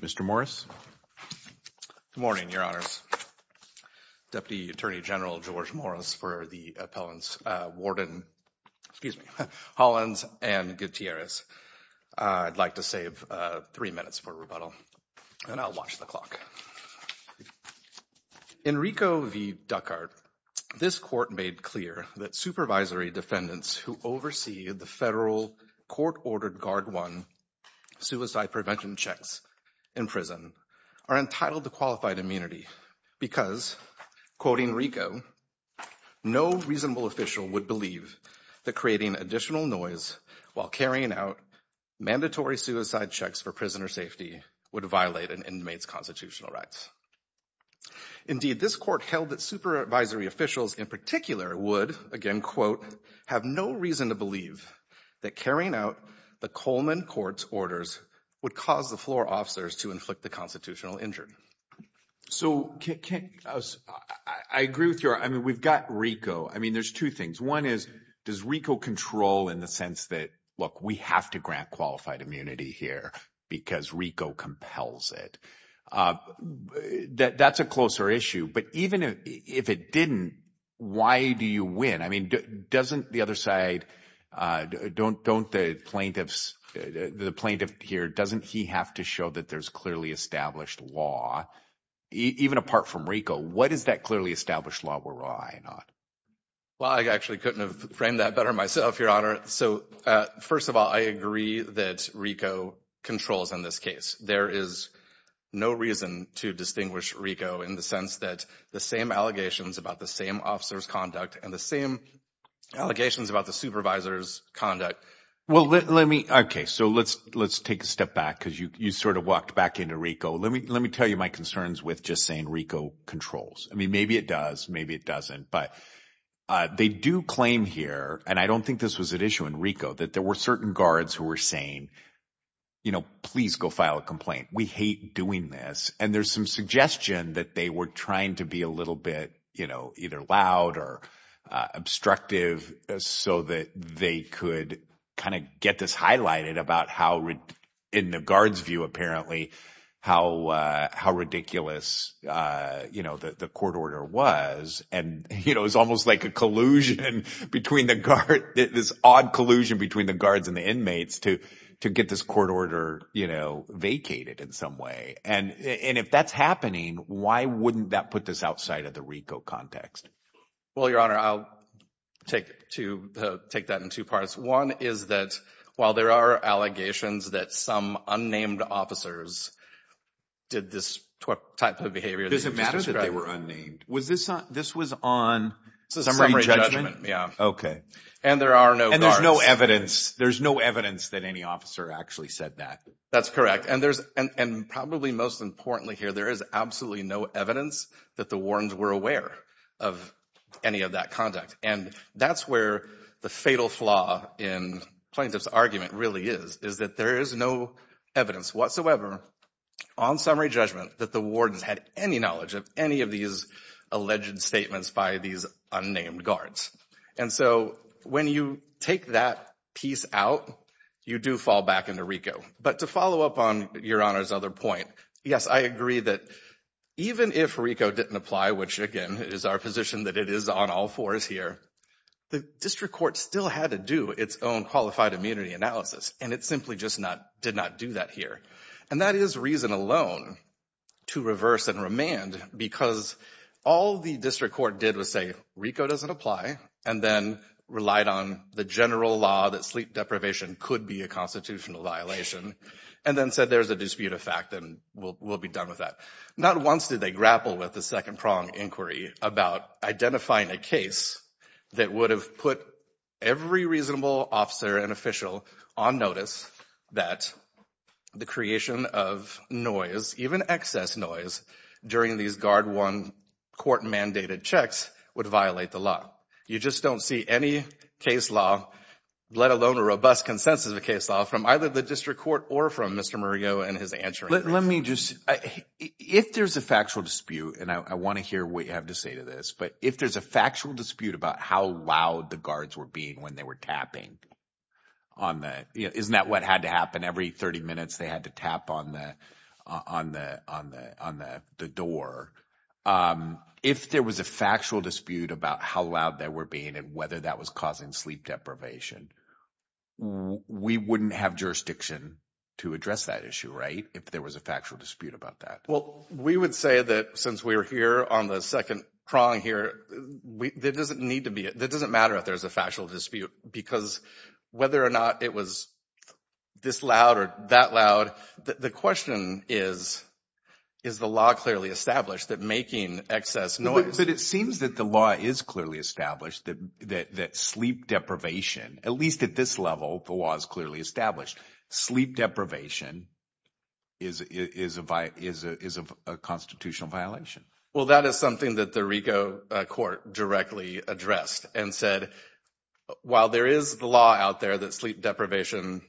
Mr. Morris. Good morning, your honors. Deputy Attorney General George Morris for the appellants uh Warden, excuse me, Hollands and Gutierrez. I'd like to save uh three minutes for rebuttal and I'll watch the clock. Enrico v. Ducart, this court made clear that supervisory defendants who oversee the federal court-ordered guard one suicide prevention checks in prison are entitled to qualified immunity because, quoting Enrico, no reasonable official would believe that creating additional noise while carrying out mandatory suicide checks for prisoner safety would violate an inmate's constitutional rights. Indeed, this court held that supervisory officials in particular would, again quote, have no reason to believe that carrying out the Coleman court's orders would cause the floor officers to inflict the constitutional injury. So, I agree with your, I mean we've got Enrico, I mean there's two things. One is, does Enrico control in the sense that, look, we have to grant qualified immunity here because Enrico compels it. That's a closer issue, but even if it didn't, why do you win? I mean, doesn't the other side, don't the plaintiffs, the plaintiff here, doesn't he have to show that there's clearly established law, even apart from Enrico, what is that clearly established law we're relying on? Well, I actually couldn't have better myself, your honor. So, first of all, I agree that Enrico controls in this case. There is no reason to distinguish Enrico in the sense that the same allegations about the same officer's conduct and the same allegations about the supervisor's conduct. Well, let me, okay, so let's take a step back because you sort of walked back into Enrico. Let me tell you my concerns with just saying Enrico controls. I mean, maybe it does, maybe it doesn't, but they do claim here, and I don't think this was an issue in Enrico, that there were certain guards who were saying, you know, please go file a complaint. We hate doing this. And there's some suggestion that they were trying to be a little bit, you know, either loud or obstructive so that they could kind of get this highlighted about how, in the guard's view, apparently, how ridiculous, you know, the court order was. And, you know, it's almost like a collusion between the guard, this odd collusion between the guards and the inmates to get this court order, you know, vacated in some way. And if that's happening, why wouldn't that put this outside of the Enrico context? Well, your honor, I'll take that in two parts. One is that, while there are allegations that some unnamed officers did this type of behavior. Does it matter that they were unnamed? This was on summary judgment? Yeah. Okay. And there are no guards. And there's no evidence. There's no evidence that any officer actually said that. That's correct. And probably most importantly here, there is absolutely no evidence that the flaw in plaintiff's argument really is, is that there is no evidence whatsoever on summary judgment that the wardens had any knowledge of any of these alleged statements by these unnamed guards. And so when you take that piece out, you do fall back into Enrico. But to follow up on your honor's other point, yes, I agree that even if Enrico didn't apply, which again is our position that it is on all fours here, the district court still had to do its own qualified immunity analysis. And it simply just not, did not do that here. And that is reason alone to reverse and remand because all the district court did was say, Enrico doesn't apply. And then relied on the general law that sleep deprivation could be a constitutional violation. And then said, there's a dispute of fact and we'll be done with that. Not once did they grapple with the second prong inquiry about identifying a case that would have put every reasonable officer and official on notice that the creation of noise, even excess noise during these guard one court mandated checks would violate the law. You just don't see any case law, let alone a robust consensus of case law from either the district court or from Mr. and his answer. Let me just, if there's a factual dispute and I want to hear what you have to say to this, but if there's a factual dispute about how loud the guards were being when they were tapping on that, isn't that what had to happen every 30 minutes they had to tap on the, on the, on the, on the, the door. If there was a factual dispute about how loud they were being and whether that was causing sleep deprivation, we wouldn't have jurisdiction to address that issue, right? If there was a factual dispute about that. Well, we would say that since we're here on the second prong here, we, there doesn't need to be, it doesn't matter if there's a factual dispute because whether or not it was this loud or that loud, the question is, is the law clearly established that making excess noise. But it seems that the law is clearly established that, that, that sleep deprivation, at least at this level, the law is clearly established. Sleep deprivation is, is a, is a, is a constitutional violation. Well, that is something that the RICO court directly addressed and said, while there is the law out there that sleep deprivation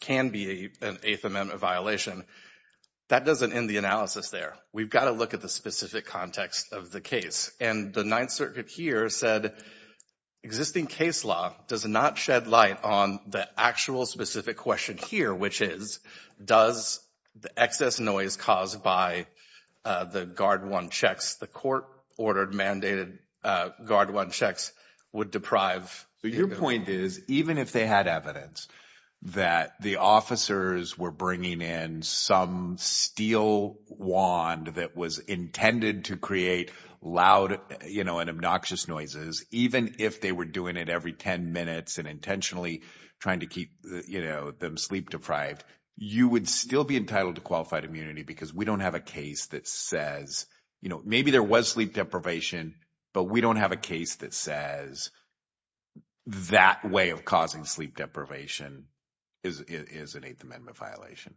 can be an eighth amendment violation, that doesn't end the analysis there. We've got to look at the specific context of the case. And the ninth circuit here said, existing case law does not shed light on the actual specific question here, which is, does the excess noise caused by the guard one checks, the court ordered mandated guard one checks would deprive. Your point is, even if they had evidence that the officers were bringing in some steel wand that was intended to create loud, you know, and obnoxious noises, even if they were doing it every 10 minutes and intentionally trying to keep them sleep deprived, you would still be entitled to qualified immunity because we don't have a case that says, you know, maybe there was sleep deprivation, but we don't have a case that says that way of causing sleep deprivation is an eighth amendment violation.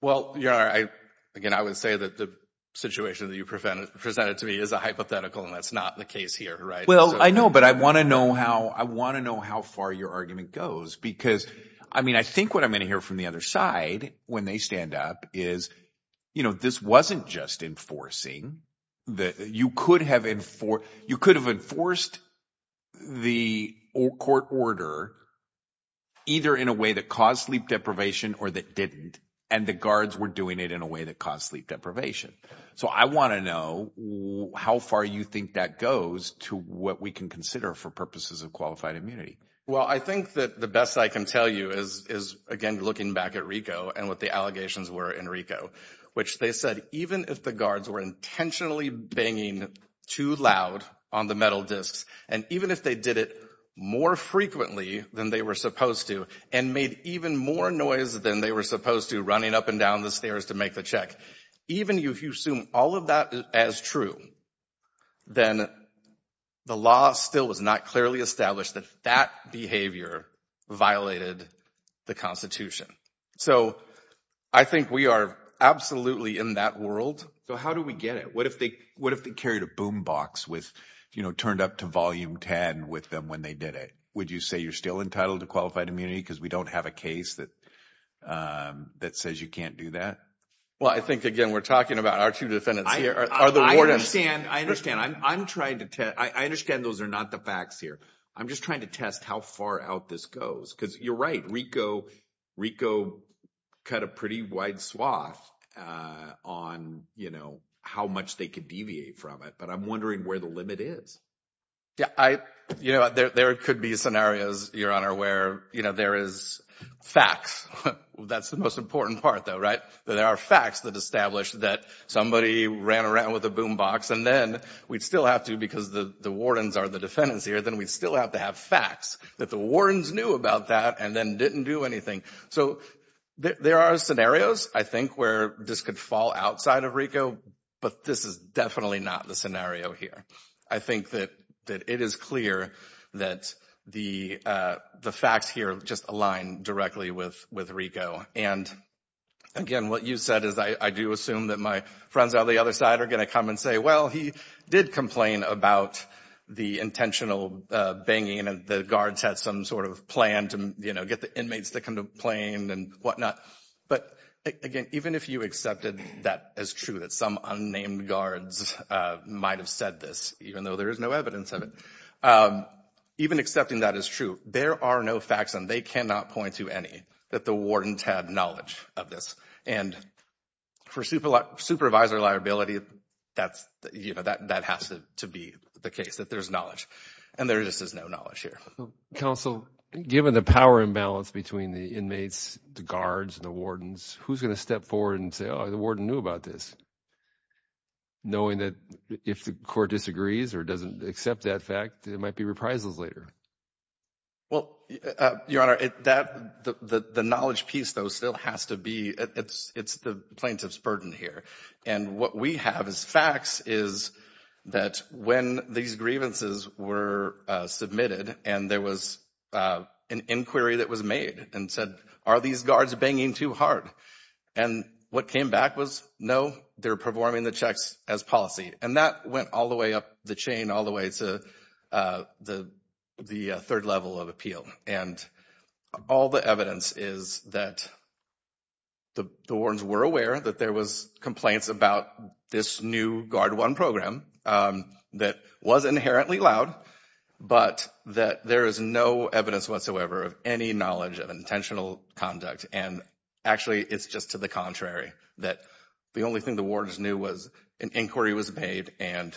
Well, you know, I, again, I would say that the situation that you presented to me is a hypothetical and that's not the case here, right? Well, I know, but I want to know how, I want to know how far your argument goes, because I mean, I think what I'm going to hear from the other side when they stand up is, you know, this wasn't just enforcing that you could have enforced, you could have enforced the court order either in a way that caused sleep deprivation or that didn't, and the guards were doing it in a way that caused sleep deprivation. So I want to know how far you think that goes to what we can consider for purposes of qualified immunity. Well, I think that the best I can tell you is, again, looking back at RICO and what the allegations were in RICO, which they said, even if the guards were intentionally banging too loud on the metal discs, and even if they did it more frequently than they were supposed to, and made even more noise than they were supposed to, running up and down the stairs to make the check, even if you assume all of that as true, then the law still was not clearly established that that behavior violated the Constitution. So I think we are absolutely in that world. So how do we get it? What if they carried a boom box with, you know, turned up to volume 10 with them when they did it? Would you say you're still entitled to qualified immunity because we don't have a case that says you can't do that? Well, I think, again, we're talking about our two defendants here are the wardens. I understand. I understand. I'm trying to test. I understand those are not the facts here. I'm just trying to test how far out this goes because you're right. RICO cut a pretty wide swath on, you know, how much they could deviate from it. But I'm wondering where the limit is. Yeah. You know, there could be scenarios, Your Honor, where, you know, there is facts. That's the most important part, though, right? There are facts that establish that somebody ran around with a boom box and then we'd still have to, because the wardens are the defendants here, then we'd still have to have facts that the wardens knew about that and then didn't do anything. So there are scenarios, I think, where this could fall outside of RICO. But this is definitely not the scenario here. I think that it is clear that the facts here just align directly with RICO. And again, what you said is I do assume that my friends on the other side are going to come and say, well, he did complain about the intentional banging and the guards had some sort of plan to, you know, get the inmates to come to plain and whatnot. But again, even if you accepted that as true, that some unnamed guards might have said this, even though there is no evidence of it, even accepting that as true, there are no facts and they cannot point to any that the wardens had knowledge of this. And for supervisor liability, that's, you know, that has to be the case, that there's knowledge. And there just is no knowledge here. Counsel, given the power imbalance between the inmates, the guards and the wardens, who's going to step forward and say, oh, the warden knew about this, knowing that if the court disagrees or doesn't accept that fact, there might be reprisals later? Well, Your Honor, the knowledge piece, though, still has to be, it's the plaintiff's burden here. And what we have as facts is that when these grievances were submitted and there was an inquiry that was made and said, are these guards banging too hard? And what came back was, no, they're performing the checks as policy. And that went all the way up the chain, all the way to the third level of appeal. And all the evidence is that the wardens were aware that there was complaints about this new Guard One program that was inherently loud, but that there is no evidence whatsoever of any knowledge of intentional conduct. And actually, it's just to the contrary, that the only thing the wardens knew was an inquiry was made and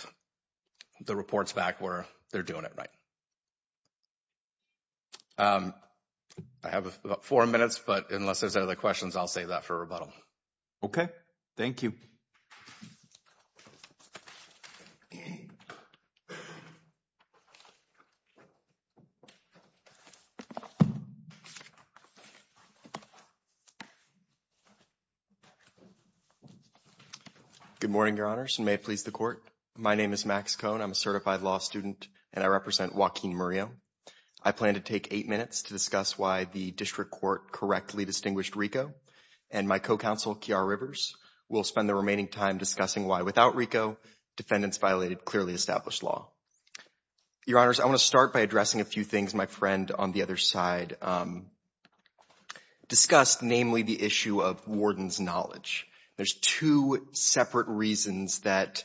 the reports back were, they're doing it right. I have about four minutes, but unless there's other questions, I'll save that for rebuttal. Okay. Thank you. Good morning, Your Honors, and may it please the court. My name is Max Cohn. I'm a certified law student and I represent Joaquin Murillo. I plan to take eight minutes to discuss why the district court correctly distinguished RICO. And my co-counsel, Kiara Rivers, will spend the remaining time discussing why without RICO, defendants violated clearly established law. Your Honors, I want to start by addressing a few things my friend on the other side discussed, namely the issue of wardens' knowledge. There's two separate reasons that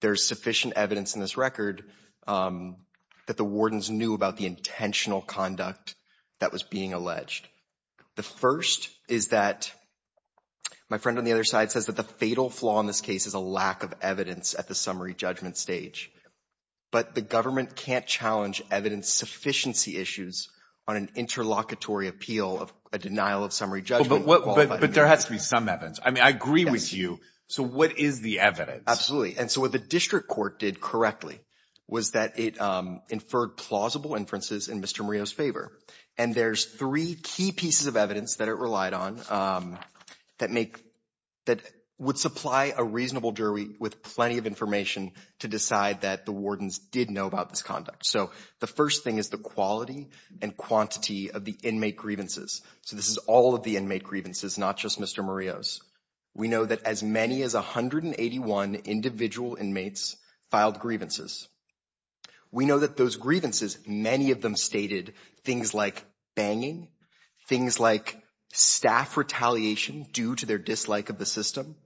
there's sufficient evidence in this record that the wardens knew about the intentional conduct that was being alleged. The first is that my friend on the other side says that the fatal flaw in this case is a lack of evidence at the summary judgment stage, but the government can't challenge evidence sufficiency issues on an interlocutory appeal of a denial of summary judgment. But there has to be some evidence. I mean, I agree with you. So what is the evidence? Absolutely. And so what the district court did correctly was that it inferred plausible inferences in Mr. Murillo's favor. And there's three key pieces of evidence that it relied on that would supply a reasonable jury with plenty of information to decide that the wardens did about this conduct. So the first thing is the quality and quantity of the inmate grievances. So this is all of the inmate grievances, not just Mr. Murillo's. We know that as many as 181 individual inmates filed grievances. We know that those grievances, many of them stated things like banging, things like staff retaliation due to their dislike of the system,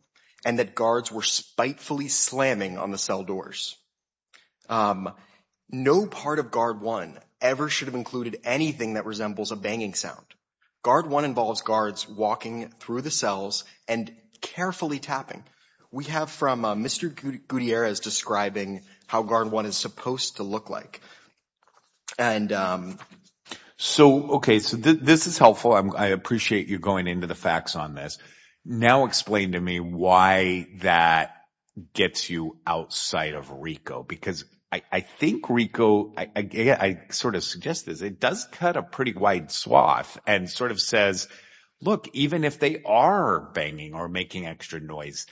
and that guards were spitefully slamming on the cell doors. No part of Guard 1 ever should have included anything that resembles a banging sound. Guard 1 involves guards walking through the cells and carefully tapping. We have from Mr. Gutierrez describing how Guard 1 is supposed to look like. And so, okay, so this is helpful. I appreciate you going into the facts on this. Now explain to me why that gets you outside of RICO? Because I think RICO, I sort of suggest this, it does cut a pretty wide swath and sort of says, look, even if they are banging or making extra noise,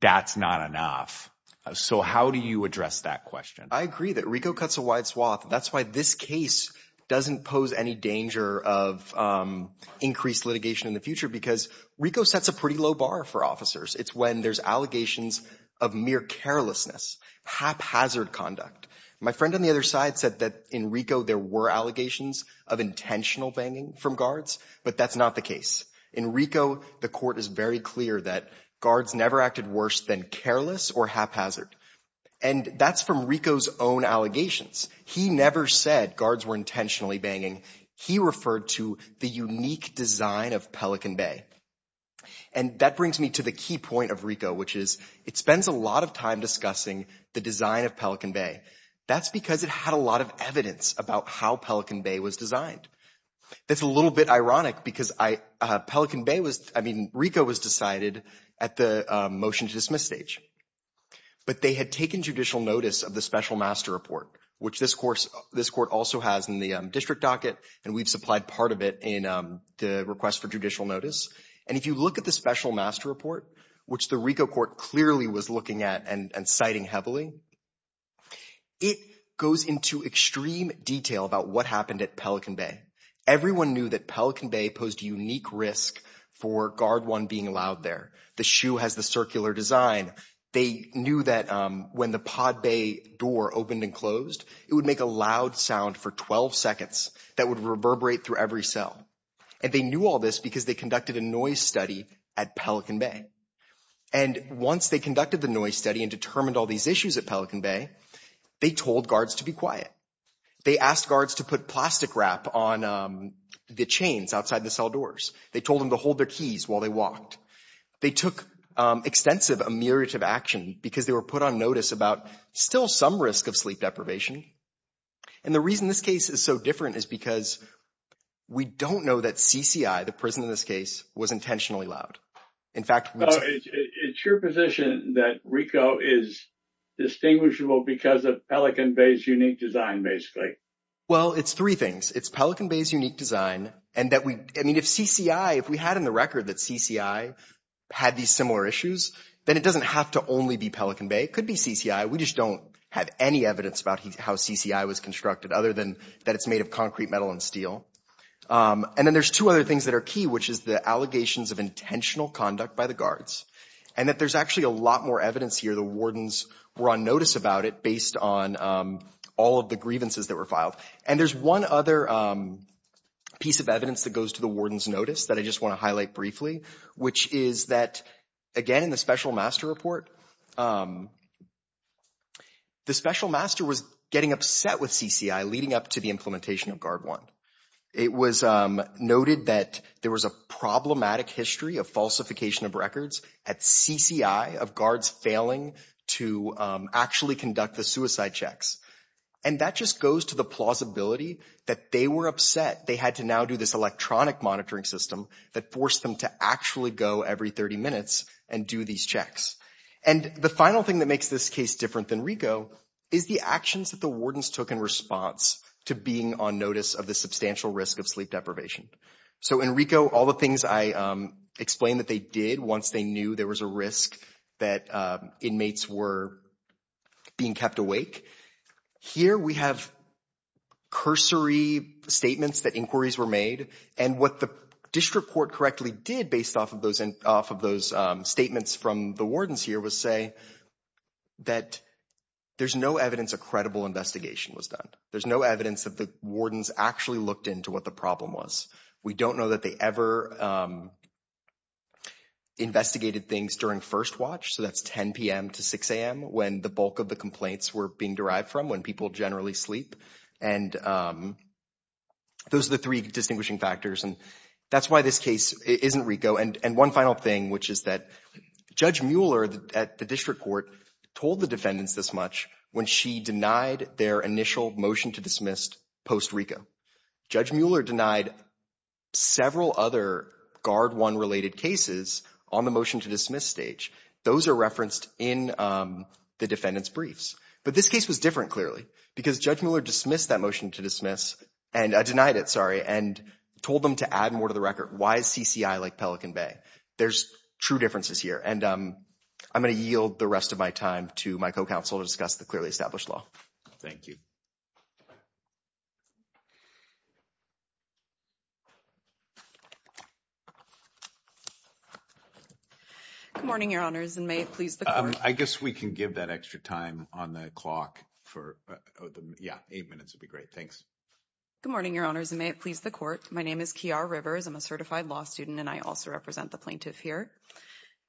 that's not enough. So how do you address that question? I agree that RICO cuts a wide swath. That's why this case doesn't pose any danger of increased litigation in the future, because RICO sets a pretty low bar for officers. It's when there's allegations of mere carelessness, haphazard conduct. My friend on the other side said that in RICO, there were allegations of intentional banging from guards, but that's not the case. In RICO, the court is very clear that guards never acted worse than careless or haphazard. And that's from RICO's own allegations. He never said guards were intentionally banging. He referred to the unique design of Pelican Bay. And that brings me to the key point of RICO, which is it spends a lot of time discussing the design of Pelican Bay. That's because it had a lot of evidence about how Pelican Bay was designed. That's a little bit ironic because Pelican Bay was, I mean, RICO was decided at the motion to dismiss stage, but they had taken judicial notice of the special master report, which this court also has in the district docket, and we've supplied part of it in the request for judicial notice. And if you look at the special master report, which the RICO court clearly was looking at and citing heavily, it goes into extreme detail about what happened at Pelican Bay. Everyone knew that Pelican Bay posed a unique risk for guard one being allowed there. The shoe has the circular design. They make a loud sound for 12 seconds that would reverberate through every cell. And they knew all this because they conducted a noise study at Pelican Bay. And once they conducted the noise study and determined all these issues at Pelican Bay, they told guards to be quiet. They asked guards to put plastic wrap on the chains outside the cell doors. They told them to hold their keys while they walked. They took extensive ameliorative action because they were put on notice about still some risk of sleep deprivation. And the reason this case is so different is because we don't know that CCI, the prison in this case, was intentionally loud. In fact, it's your position that RICO is distinguishable because of Pelican Bay's unique design, basically. Well, it's three things. It's Pelican Bay's unique design and that we, I mean, if CCI, if we had in the record that CCI had these similar issues, then it doesn't have to only be Pelican Bay. It could be CCI. We just don't have any evidence about how CCI was constructed other than that it's made of concrete, metal, and steel. And then there's two other things that are key, which is the allegations of intentional conduct by the guards and that there's actually a lot more evidence here. The wardens were on notice about it based on all of the grievances that were filed. And there's one other piece of evidence that goes to the warden's notice that I want to highlight briefly, which is that, again, in the special master report, the special master was getting upset with CCI leading up to the implementation of Guard 1. It was noted that there was a problematic history of falsification of records at CCI of guards failing to actually conduct the suicide checks. And that just goes to the plausibility that they were upset they had to now do this electronic monitoring system that forced them to actually go every 30 minutes and do these checks. And the final thing that makes this case different than RICO is the actions that the wardens took in response to being on notice of the substantial risk of sleep deprivation. So in RICO, all the things I explained that they did once they knew there was a risk that inmates were being kept awake, here we have cursory statements that inquiries were made. And what the district court correctly did based off of those statements from the wardens here was say that there's no evidence a credible investigation was done. There's no evidence that the wardens actually looked into what the problem was. We don't know that they ever investigated things during first watch. So that's 10 p.m. to 6 a.m. when the bulk of the complaints were being derived from when people generally sleep. And those are the three distinguishing factors. And that's why this case isn't RICO. And one final thing, which is that Judge Mueller at the district court told the defendants this much when she denied their initial motion to dismiss post RICO. Judge Mueller denied several other Guard One related cases on the motion to dismiss stage. Those are referenced in the defendant's briefs. But this case was different clearly because Judge Mueller dismissed that motion to dismiss and denied it, sorry, and told them to add more to the record. Why is CCI like Pelican Bay? There's true differences here. And I'm going to yield the rest of my time to my co-counsel to discuss the clearly established law. Thank you. Good morning, Your Honors, and may it please the court. I guess we can give that extra time on the clock for, yeah, eight minutes would be great. Thanks. Good morning, Your Honors, and may it please the court. My name is Kiara Rivers. I'm a certified law student and I also represent the plaintiff here.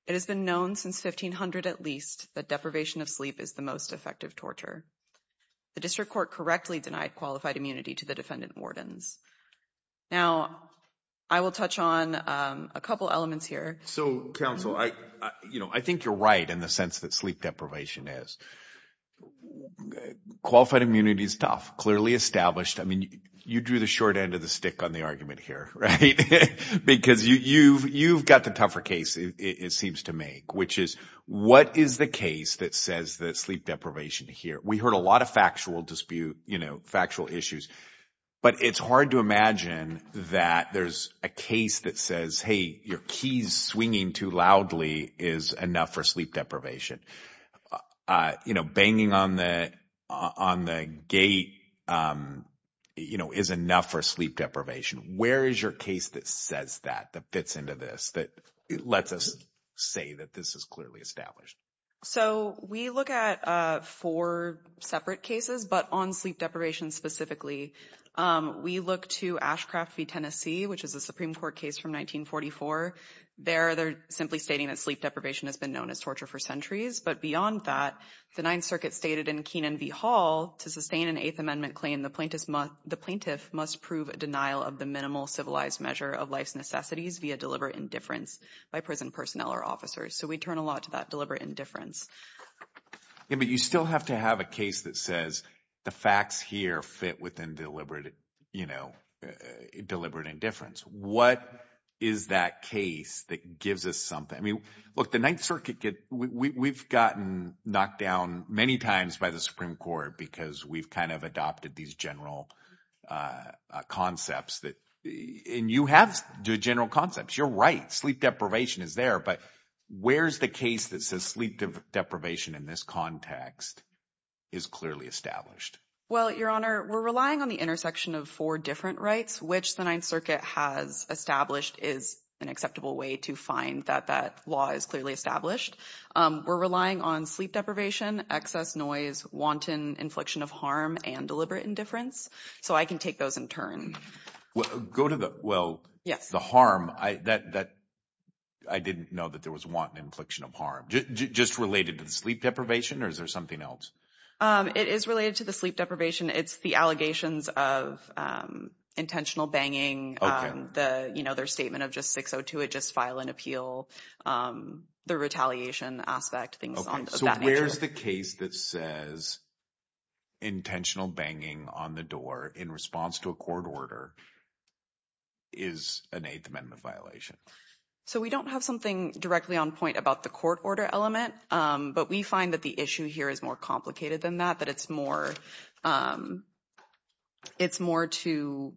It has been known since 1500 at least that deprivation of sleep is the most effective torture. The district court correctly denied qualified immunity to the defendant wardens. Now, I will touch on a couple elements here. So, counsel, I think you're right in the sense that sleep deprivation is. Qualified immunity is tough, clearly established. I mean, you drew the short end of the stick on the argument here, right? Because you've got the tougher case it seems to make, which is what is the case that says that sleep deprivation here? We heard a lot of factual dispute, you know, factual issues, but it's hard to imagine that there's a case that says, hey, your keys swinging too loudly is enough for sleep deprivation. You know, banging on the gate, you know, is enough for sleep deprivation. Where is your case that says that, that fits into this, that lets us say that this is clearly established? So, we look at four separate cases, but on sleep deprivation specifically, we look to Ashcraft v. Tennessee, which is a Supreme Court case from 1944. There, they're simply stating that sleep deprivation has been known as torture for centuries, but beyond that, the Ninth Circuit stated in Keenan v. Hall, to sustain an Eighth Amendment claim, the plaintiff must prove a denial of the minimal civilized measure of life's necessities via deliberate indifference by prison personnel or officers. So, we turn a lot to that deliberate indifference. Yeah, but you still have to have a case that says the facts here fit within deliberate, you know, deliberate indifference. What is that case that gives us something? I mean, look, the Ninth Circuit, we've gotten knocked down many times by the Supreme Court because we've kind of You're right. Sleep deprivation is there, but where's the case that says sleep deprivation in this context is clearly established? Well, Your Honor, we're relying on the intersection of four different rights, which the Ninth Circuit has established is an acceptable way to find that that law is clearly established. We're relying on sleep deprivation, excess noise, wanton infliction of harm, and deliberate indifference. So, I can take those in turn. Well, go to the, well, the harm, I didn't know that there was wanton infliction of harm. Just related to the sleep deprivation or is there something else? It is related to the sleep deprivation. It's the allegations of intentional banging. Okay. The, you know, their statement of just 602, just file an appeal, the retaliation aspect, things of that nature. So, where's the case that says intentional banging on the door in response to a court order is an Eighth Amendment violation? So, we don't have something directly on point about the court order element, but we find that the issue here is more complicated than that, that it's more, it's more to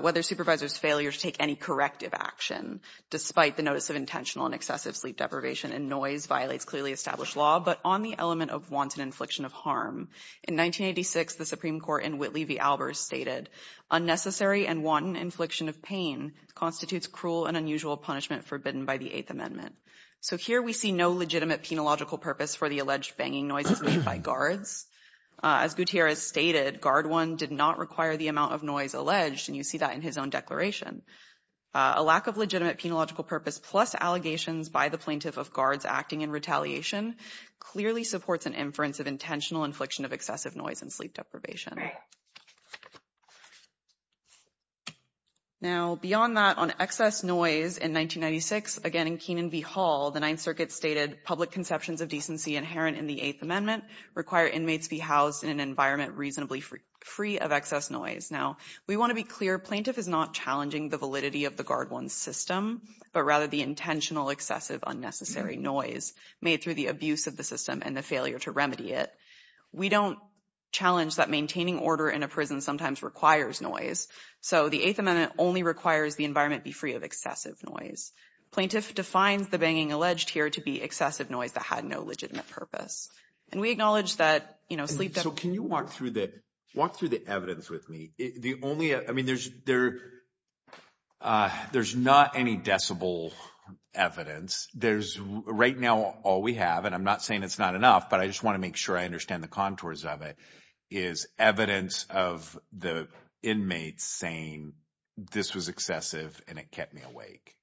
whether supervisor's failure to take any corrective action despite the notice of intentional and excessive sleep deprivation and noise violates clearly established law, but on the element of wanton infliction of harm. In 1986, the Supreme Court in Whitley v. Albers stated, unnecessary and wanton infliction of pain constitutes cruel and unusual punishment forbidden by the Eighth Amendment. So, here we see no legitimate penological purpose for the alleged banging noises made by guards. As Gutierrez stated, guard one did not require the amount of noise alleged, and you see that in his own declaration. A lack of legitimate penological purpose plus allegations by the plaintiff of guards acting in retaliation clearly supports an inference of intentional infliction of excessive noise and sleep deprivation. Now, beyond that, on excess noise in 1996, again in Keenan v. Hall, the Ninth Circuit stated, public conceptions of decency inherent in the Eighth Amendment require inmates be housed in an environment reasonably free of excess noise. Now, we want to be clear, plaintiff is not challenging the validity of the guard one system, but rather the intentional excessive unnecessary noise made through the abuse of the system and the failure to remedy it. We don't challenge that maintaining order in a prison sometimes requires noise, so the Eighth Amendment only requires the environment be free of excessive noise. Plaintiff defines the banging alleged here to be excessive noise that had no legitimate purpose, and we acknowledge that, you know, sleep deprivation... So, can you walk through the evidence with me? The only, I mean, there's not any decibel evidence. There's, right now, all we have, and I'm not saying it's not enough, but I just want to make sure I understand the contours of it, is evidence of the inmates saying this was excessive and it kept me awake.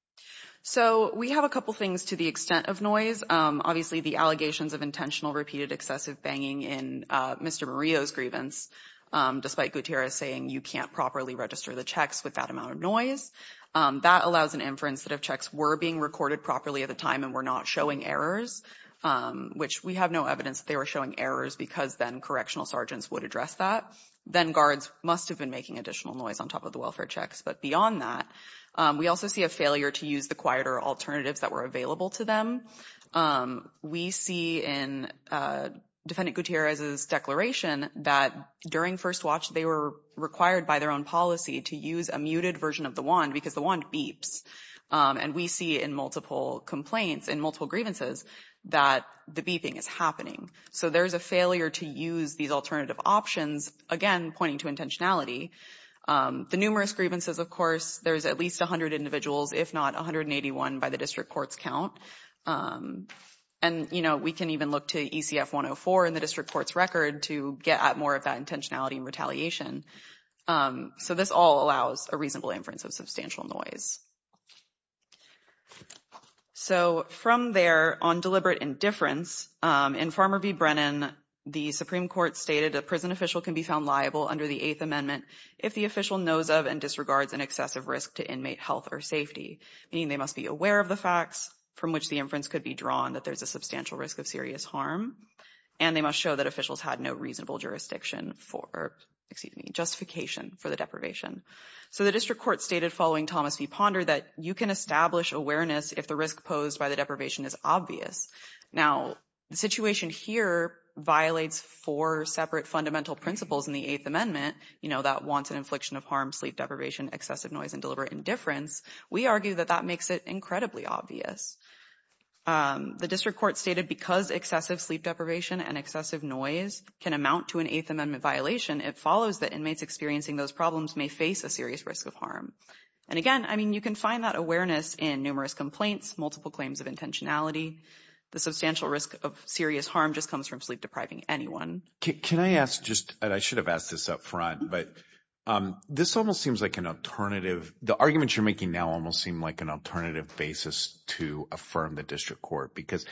So, we have a couple things to the extent of noise. Obviously, the allegations of intentional repeated excessive banging in Mr. Murillo's grievance, despite Gutierrez saying you can't properly register the checks with that amount of noise, that allows an inference that if checks were being recorded properly at the time and were not showing errors, which we have no evidence they were showing errors because then correctional sergeants would address that, then guards must have been making additional noise on top of the welfare checks. But beyond that, we also see a use the quieter alternatives that were available to them. We see in defendant Gutierrez's declaration that during first watch, they were required by their own policy to use a muted version of the wand because the wand beeps. And we see in multiple complaints, in multiple grievances, that the beeping is happening. So, there's a failure to use these alternative options, again, pointing to intentionality. The numerous grievances, of course, there's at least 100 individuals, if not 181 by the district court's count. And, you know, we can even look to ECF-104 in the district court's record to get at more of that intentionality and retaliation. So, this all allows a reasonable inference of substantial noise. So, from there, on deliberate indifference, in Farmer v. Brennan, the Supreme Court stated a prison official can be found liable under the Eighth Amendment if the official knows of and disregards an excessive risk to inmate health or safety, meaning they must be aware of the facts from which the inference could be drawn that there's a substantial risk of serious harm. And they must show that officials had no reasonable jurisdiction for, excuse me, justification for the deprivation. So, the district court stated following Thomas v. Ponder that you can establish awareness if the risk posed by the deprivation is obvious. Now, the situation here violates four separate fundamental principles in the Eighth Amendment, you know, that wants an harm, sleep deprivation, excessive noise, and deliberate indifference. We argue that that makes it incredibly obvious. The district court stated because excessive sleep deprivation and excessive noise can amount to an Eighth Amendment violation, it follows that inmates experiencing those problems may face a serious risk of harm. And again, I mean, you can find that awareness in numerous complaints, multiple claims of intentionality. The substantial risk of serious harm just comes from sleep depriving anyone. Can I ask just, and I should have asked this up front, but this almost seems like an alternative, the arguments you're making now almost seem like an alternative basis to affirm the district court. Because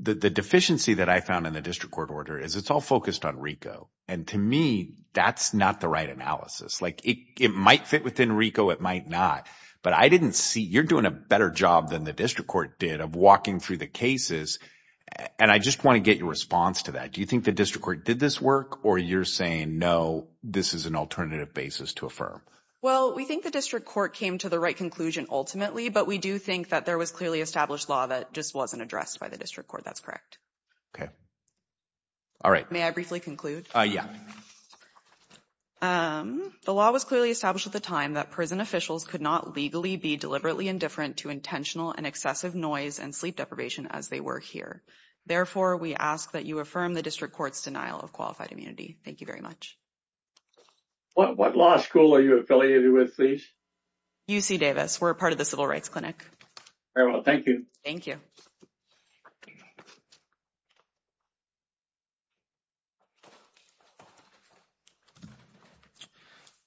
the deficiency that I found in the district court order is it's all focused on RICO. And to me, that's not the right analysis. Like it might fit within RICO, it might not. But I didn't see, you're doing a better job than the district court did of walking through the cases. And I just want to get your response to that. Do you think the district court did this work or you're saying, no, this is an Well, we think the district court came to the right conclusion ultimately. But we do think that there was clearly established law that just wasn't addressed by the district court. That's correct. Okay. All right. May I briefly conclude? Yeah. The law was clearly established at the time that prison officials could not legally be deliberately indifferent to intentional and excessive noise and sleep deprivation as they were here. Therefore, we ask that you affirm the district court's denial of qualified immunity. Thank you very much. What law school are you affiliated with, please? UC Davis. We're a part of the Civil Rights Clinic. Very well. Thank you. Thank you.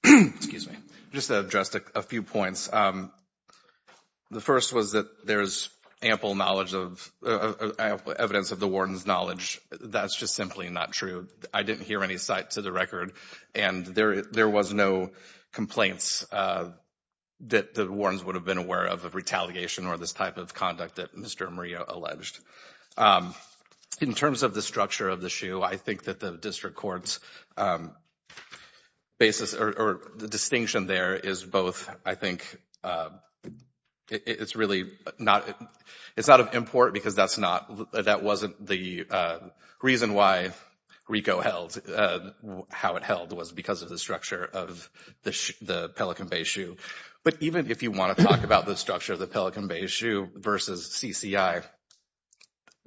Excuse me. Just to address a few points. The first was that there's ample knowledge of, ample evidence of the warden's knowledge. That's just simply not true. I didn't hear any sight to the record. And there was no complaints that the wardens would have been aware of retaliation or this type of conduct that Mr. Murillo alleged. In terms of the structure of the SHU, I think that the district court's basis or the distinction there is both, I think, it's really not, it's out of import because that's not, that wasn't the reason why RICO held, how it held was because of the structure of the Pelican Bay SHU. But even if you want to talk about the structure of the Pelican Bay SHU versus CCI,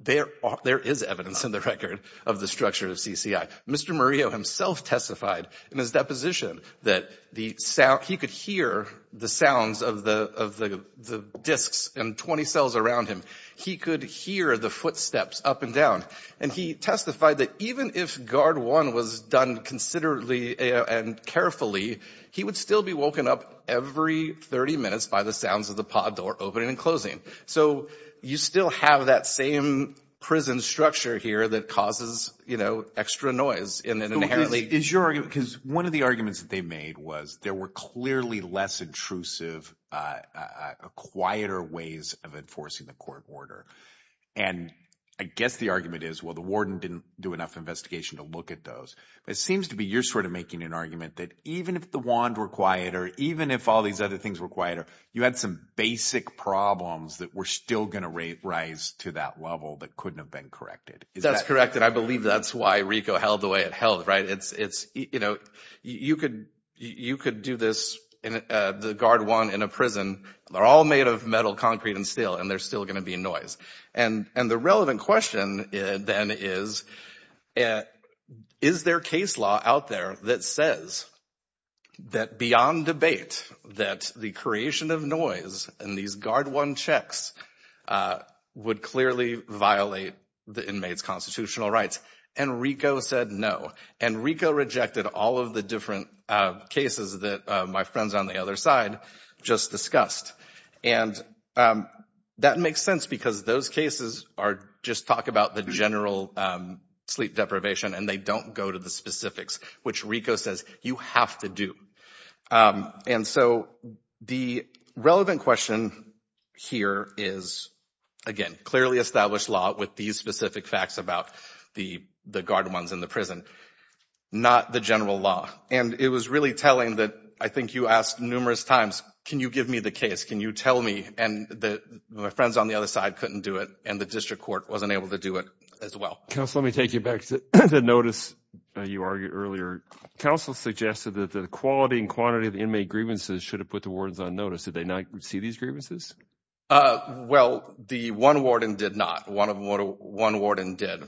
there is evidence in the record of the structure of CCI. Mr. Murillo himself testified in his deposition that the sound, he could hear the sounds of the discs and 20 cells around him. He could hear the footsteps up and down. And he testified that even if guard one was done considerably and carefully, he would still be woken up every 30 minutes by the sounds of the pod door opening and closing. So you still have that same prison structure here that causes, you know, extra noise. Is your argument, because one of the arguments that they made was there were clearly less intrusive, quieter ways of enforcing the court order. And I guess the argument is, well, the warden didn't do enough investigation to look at those, but it seems to be your sort of making an argument that even if the wand were quieter, even if all these other things were quieter, you had some basic problems that were still going to raise to that level that couldn't have been corrected. That's correct. And I believe that's why Rico held the way it held. Right. It's it's you know, you could you could do this in the guard one in a prison. They're all made of metal, concrete and steel, and they're still going to be noise. And and the relevant question then is, is there case law out there that says that beyond debate, that the creation of noise and these guard one checks would clearly violate the inmates constitutional rights? And Rico said no. And Rico rejected all of the different cases that my friends on the other side just discussed. And that makes sense because those cases are just talk about the general sleep deprivation and they don't go to specifics, which Rico says you have to do. And so the relevant question here is, again, clearly established law with these specific facts about the the guard ones in the prison, not the general law. And it was really telling that I think you asked numerous times, can you give me the case? Can you tell me? And my friends on the other side couldn't do it. And the district court wasn't able to do it as well. Counsel, let me take you back to the notice you argued earlier. Counsel suggested that the quality and quantity of the inmate grievances should have put the wardens on notice. Did they not see these grievances? Well, the one warden did not. One of them, one warden did.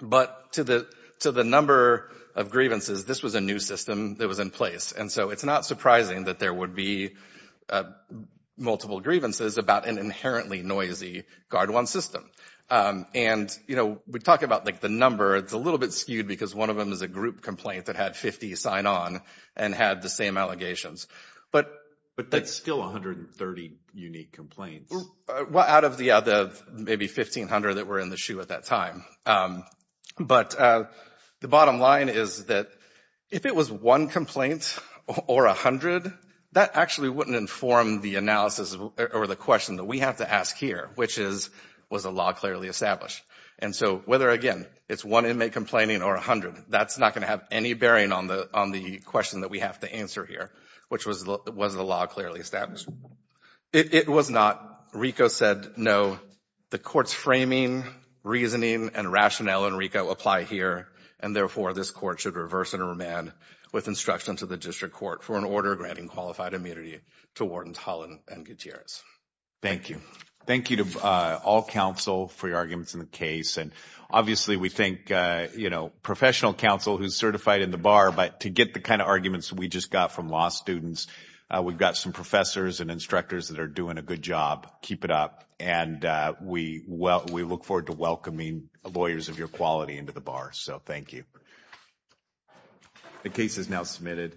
But to the to the number of grievances, this was a new system that was in place. And so it's not surprising that there would be multiple grievances about an inherently noisy guard one system. And, you know, we talk about like the number. It's a little bit skewed because one of them is a group complaint that had 50 sign on and had the same allegations. But but that's still 130 unique complaints out of the other maybe 1500 that were in the shoe at that time. But the bottom line is that if it was one complaint or 100, that actually wouldn't inform the analysis or the question that we have to ask here, which is, was the law clearly established? And so whether, again, it's one inmate complaining or 100, that's not going to have any bearing on the on the question that we have to answer here, which was, was the law clearly established? It was not. RICO said no. The court's framing, reasoning and rationale and RICO apply here. And therefore, this court should reverse and remand with instruction to the district court for an order granting qualified immunity to wardens Holland and Gutierrez. Thank you. Thank you to all counsel for your arguments in the case. And obviously, we think, you know, professional counsel who's certified in the bar. But to get the kind of arguments we just got from law students, we've got some professors and instructors that are doing a good job. Keep it up. And we well, we look forward to welcoming lawyers of your quality into the bar. So thank you. The case is now submitted.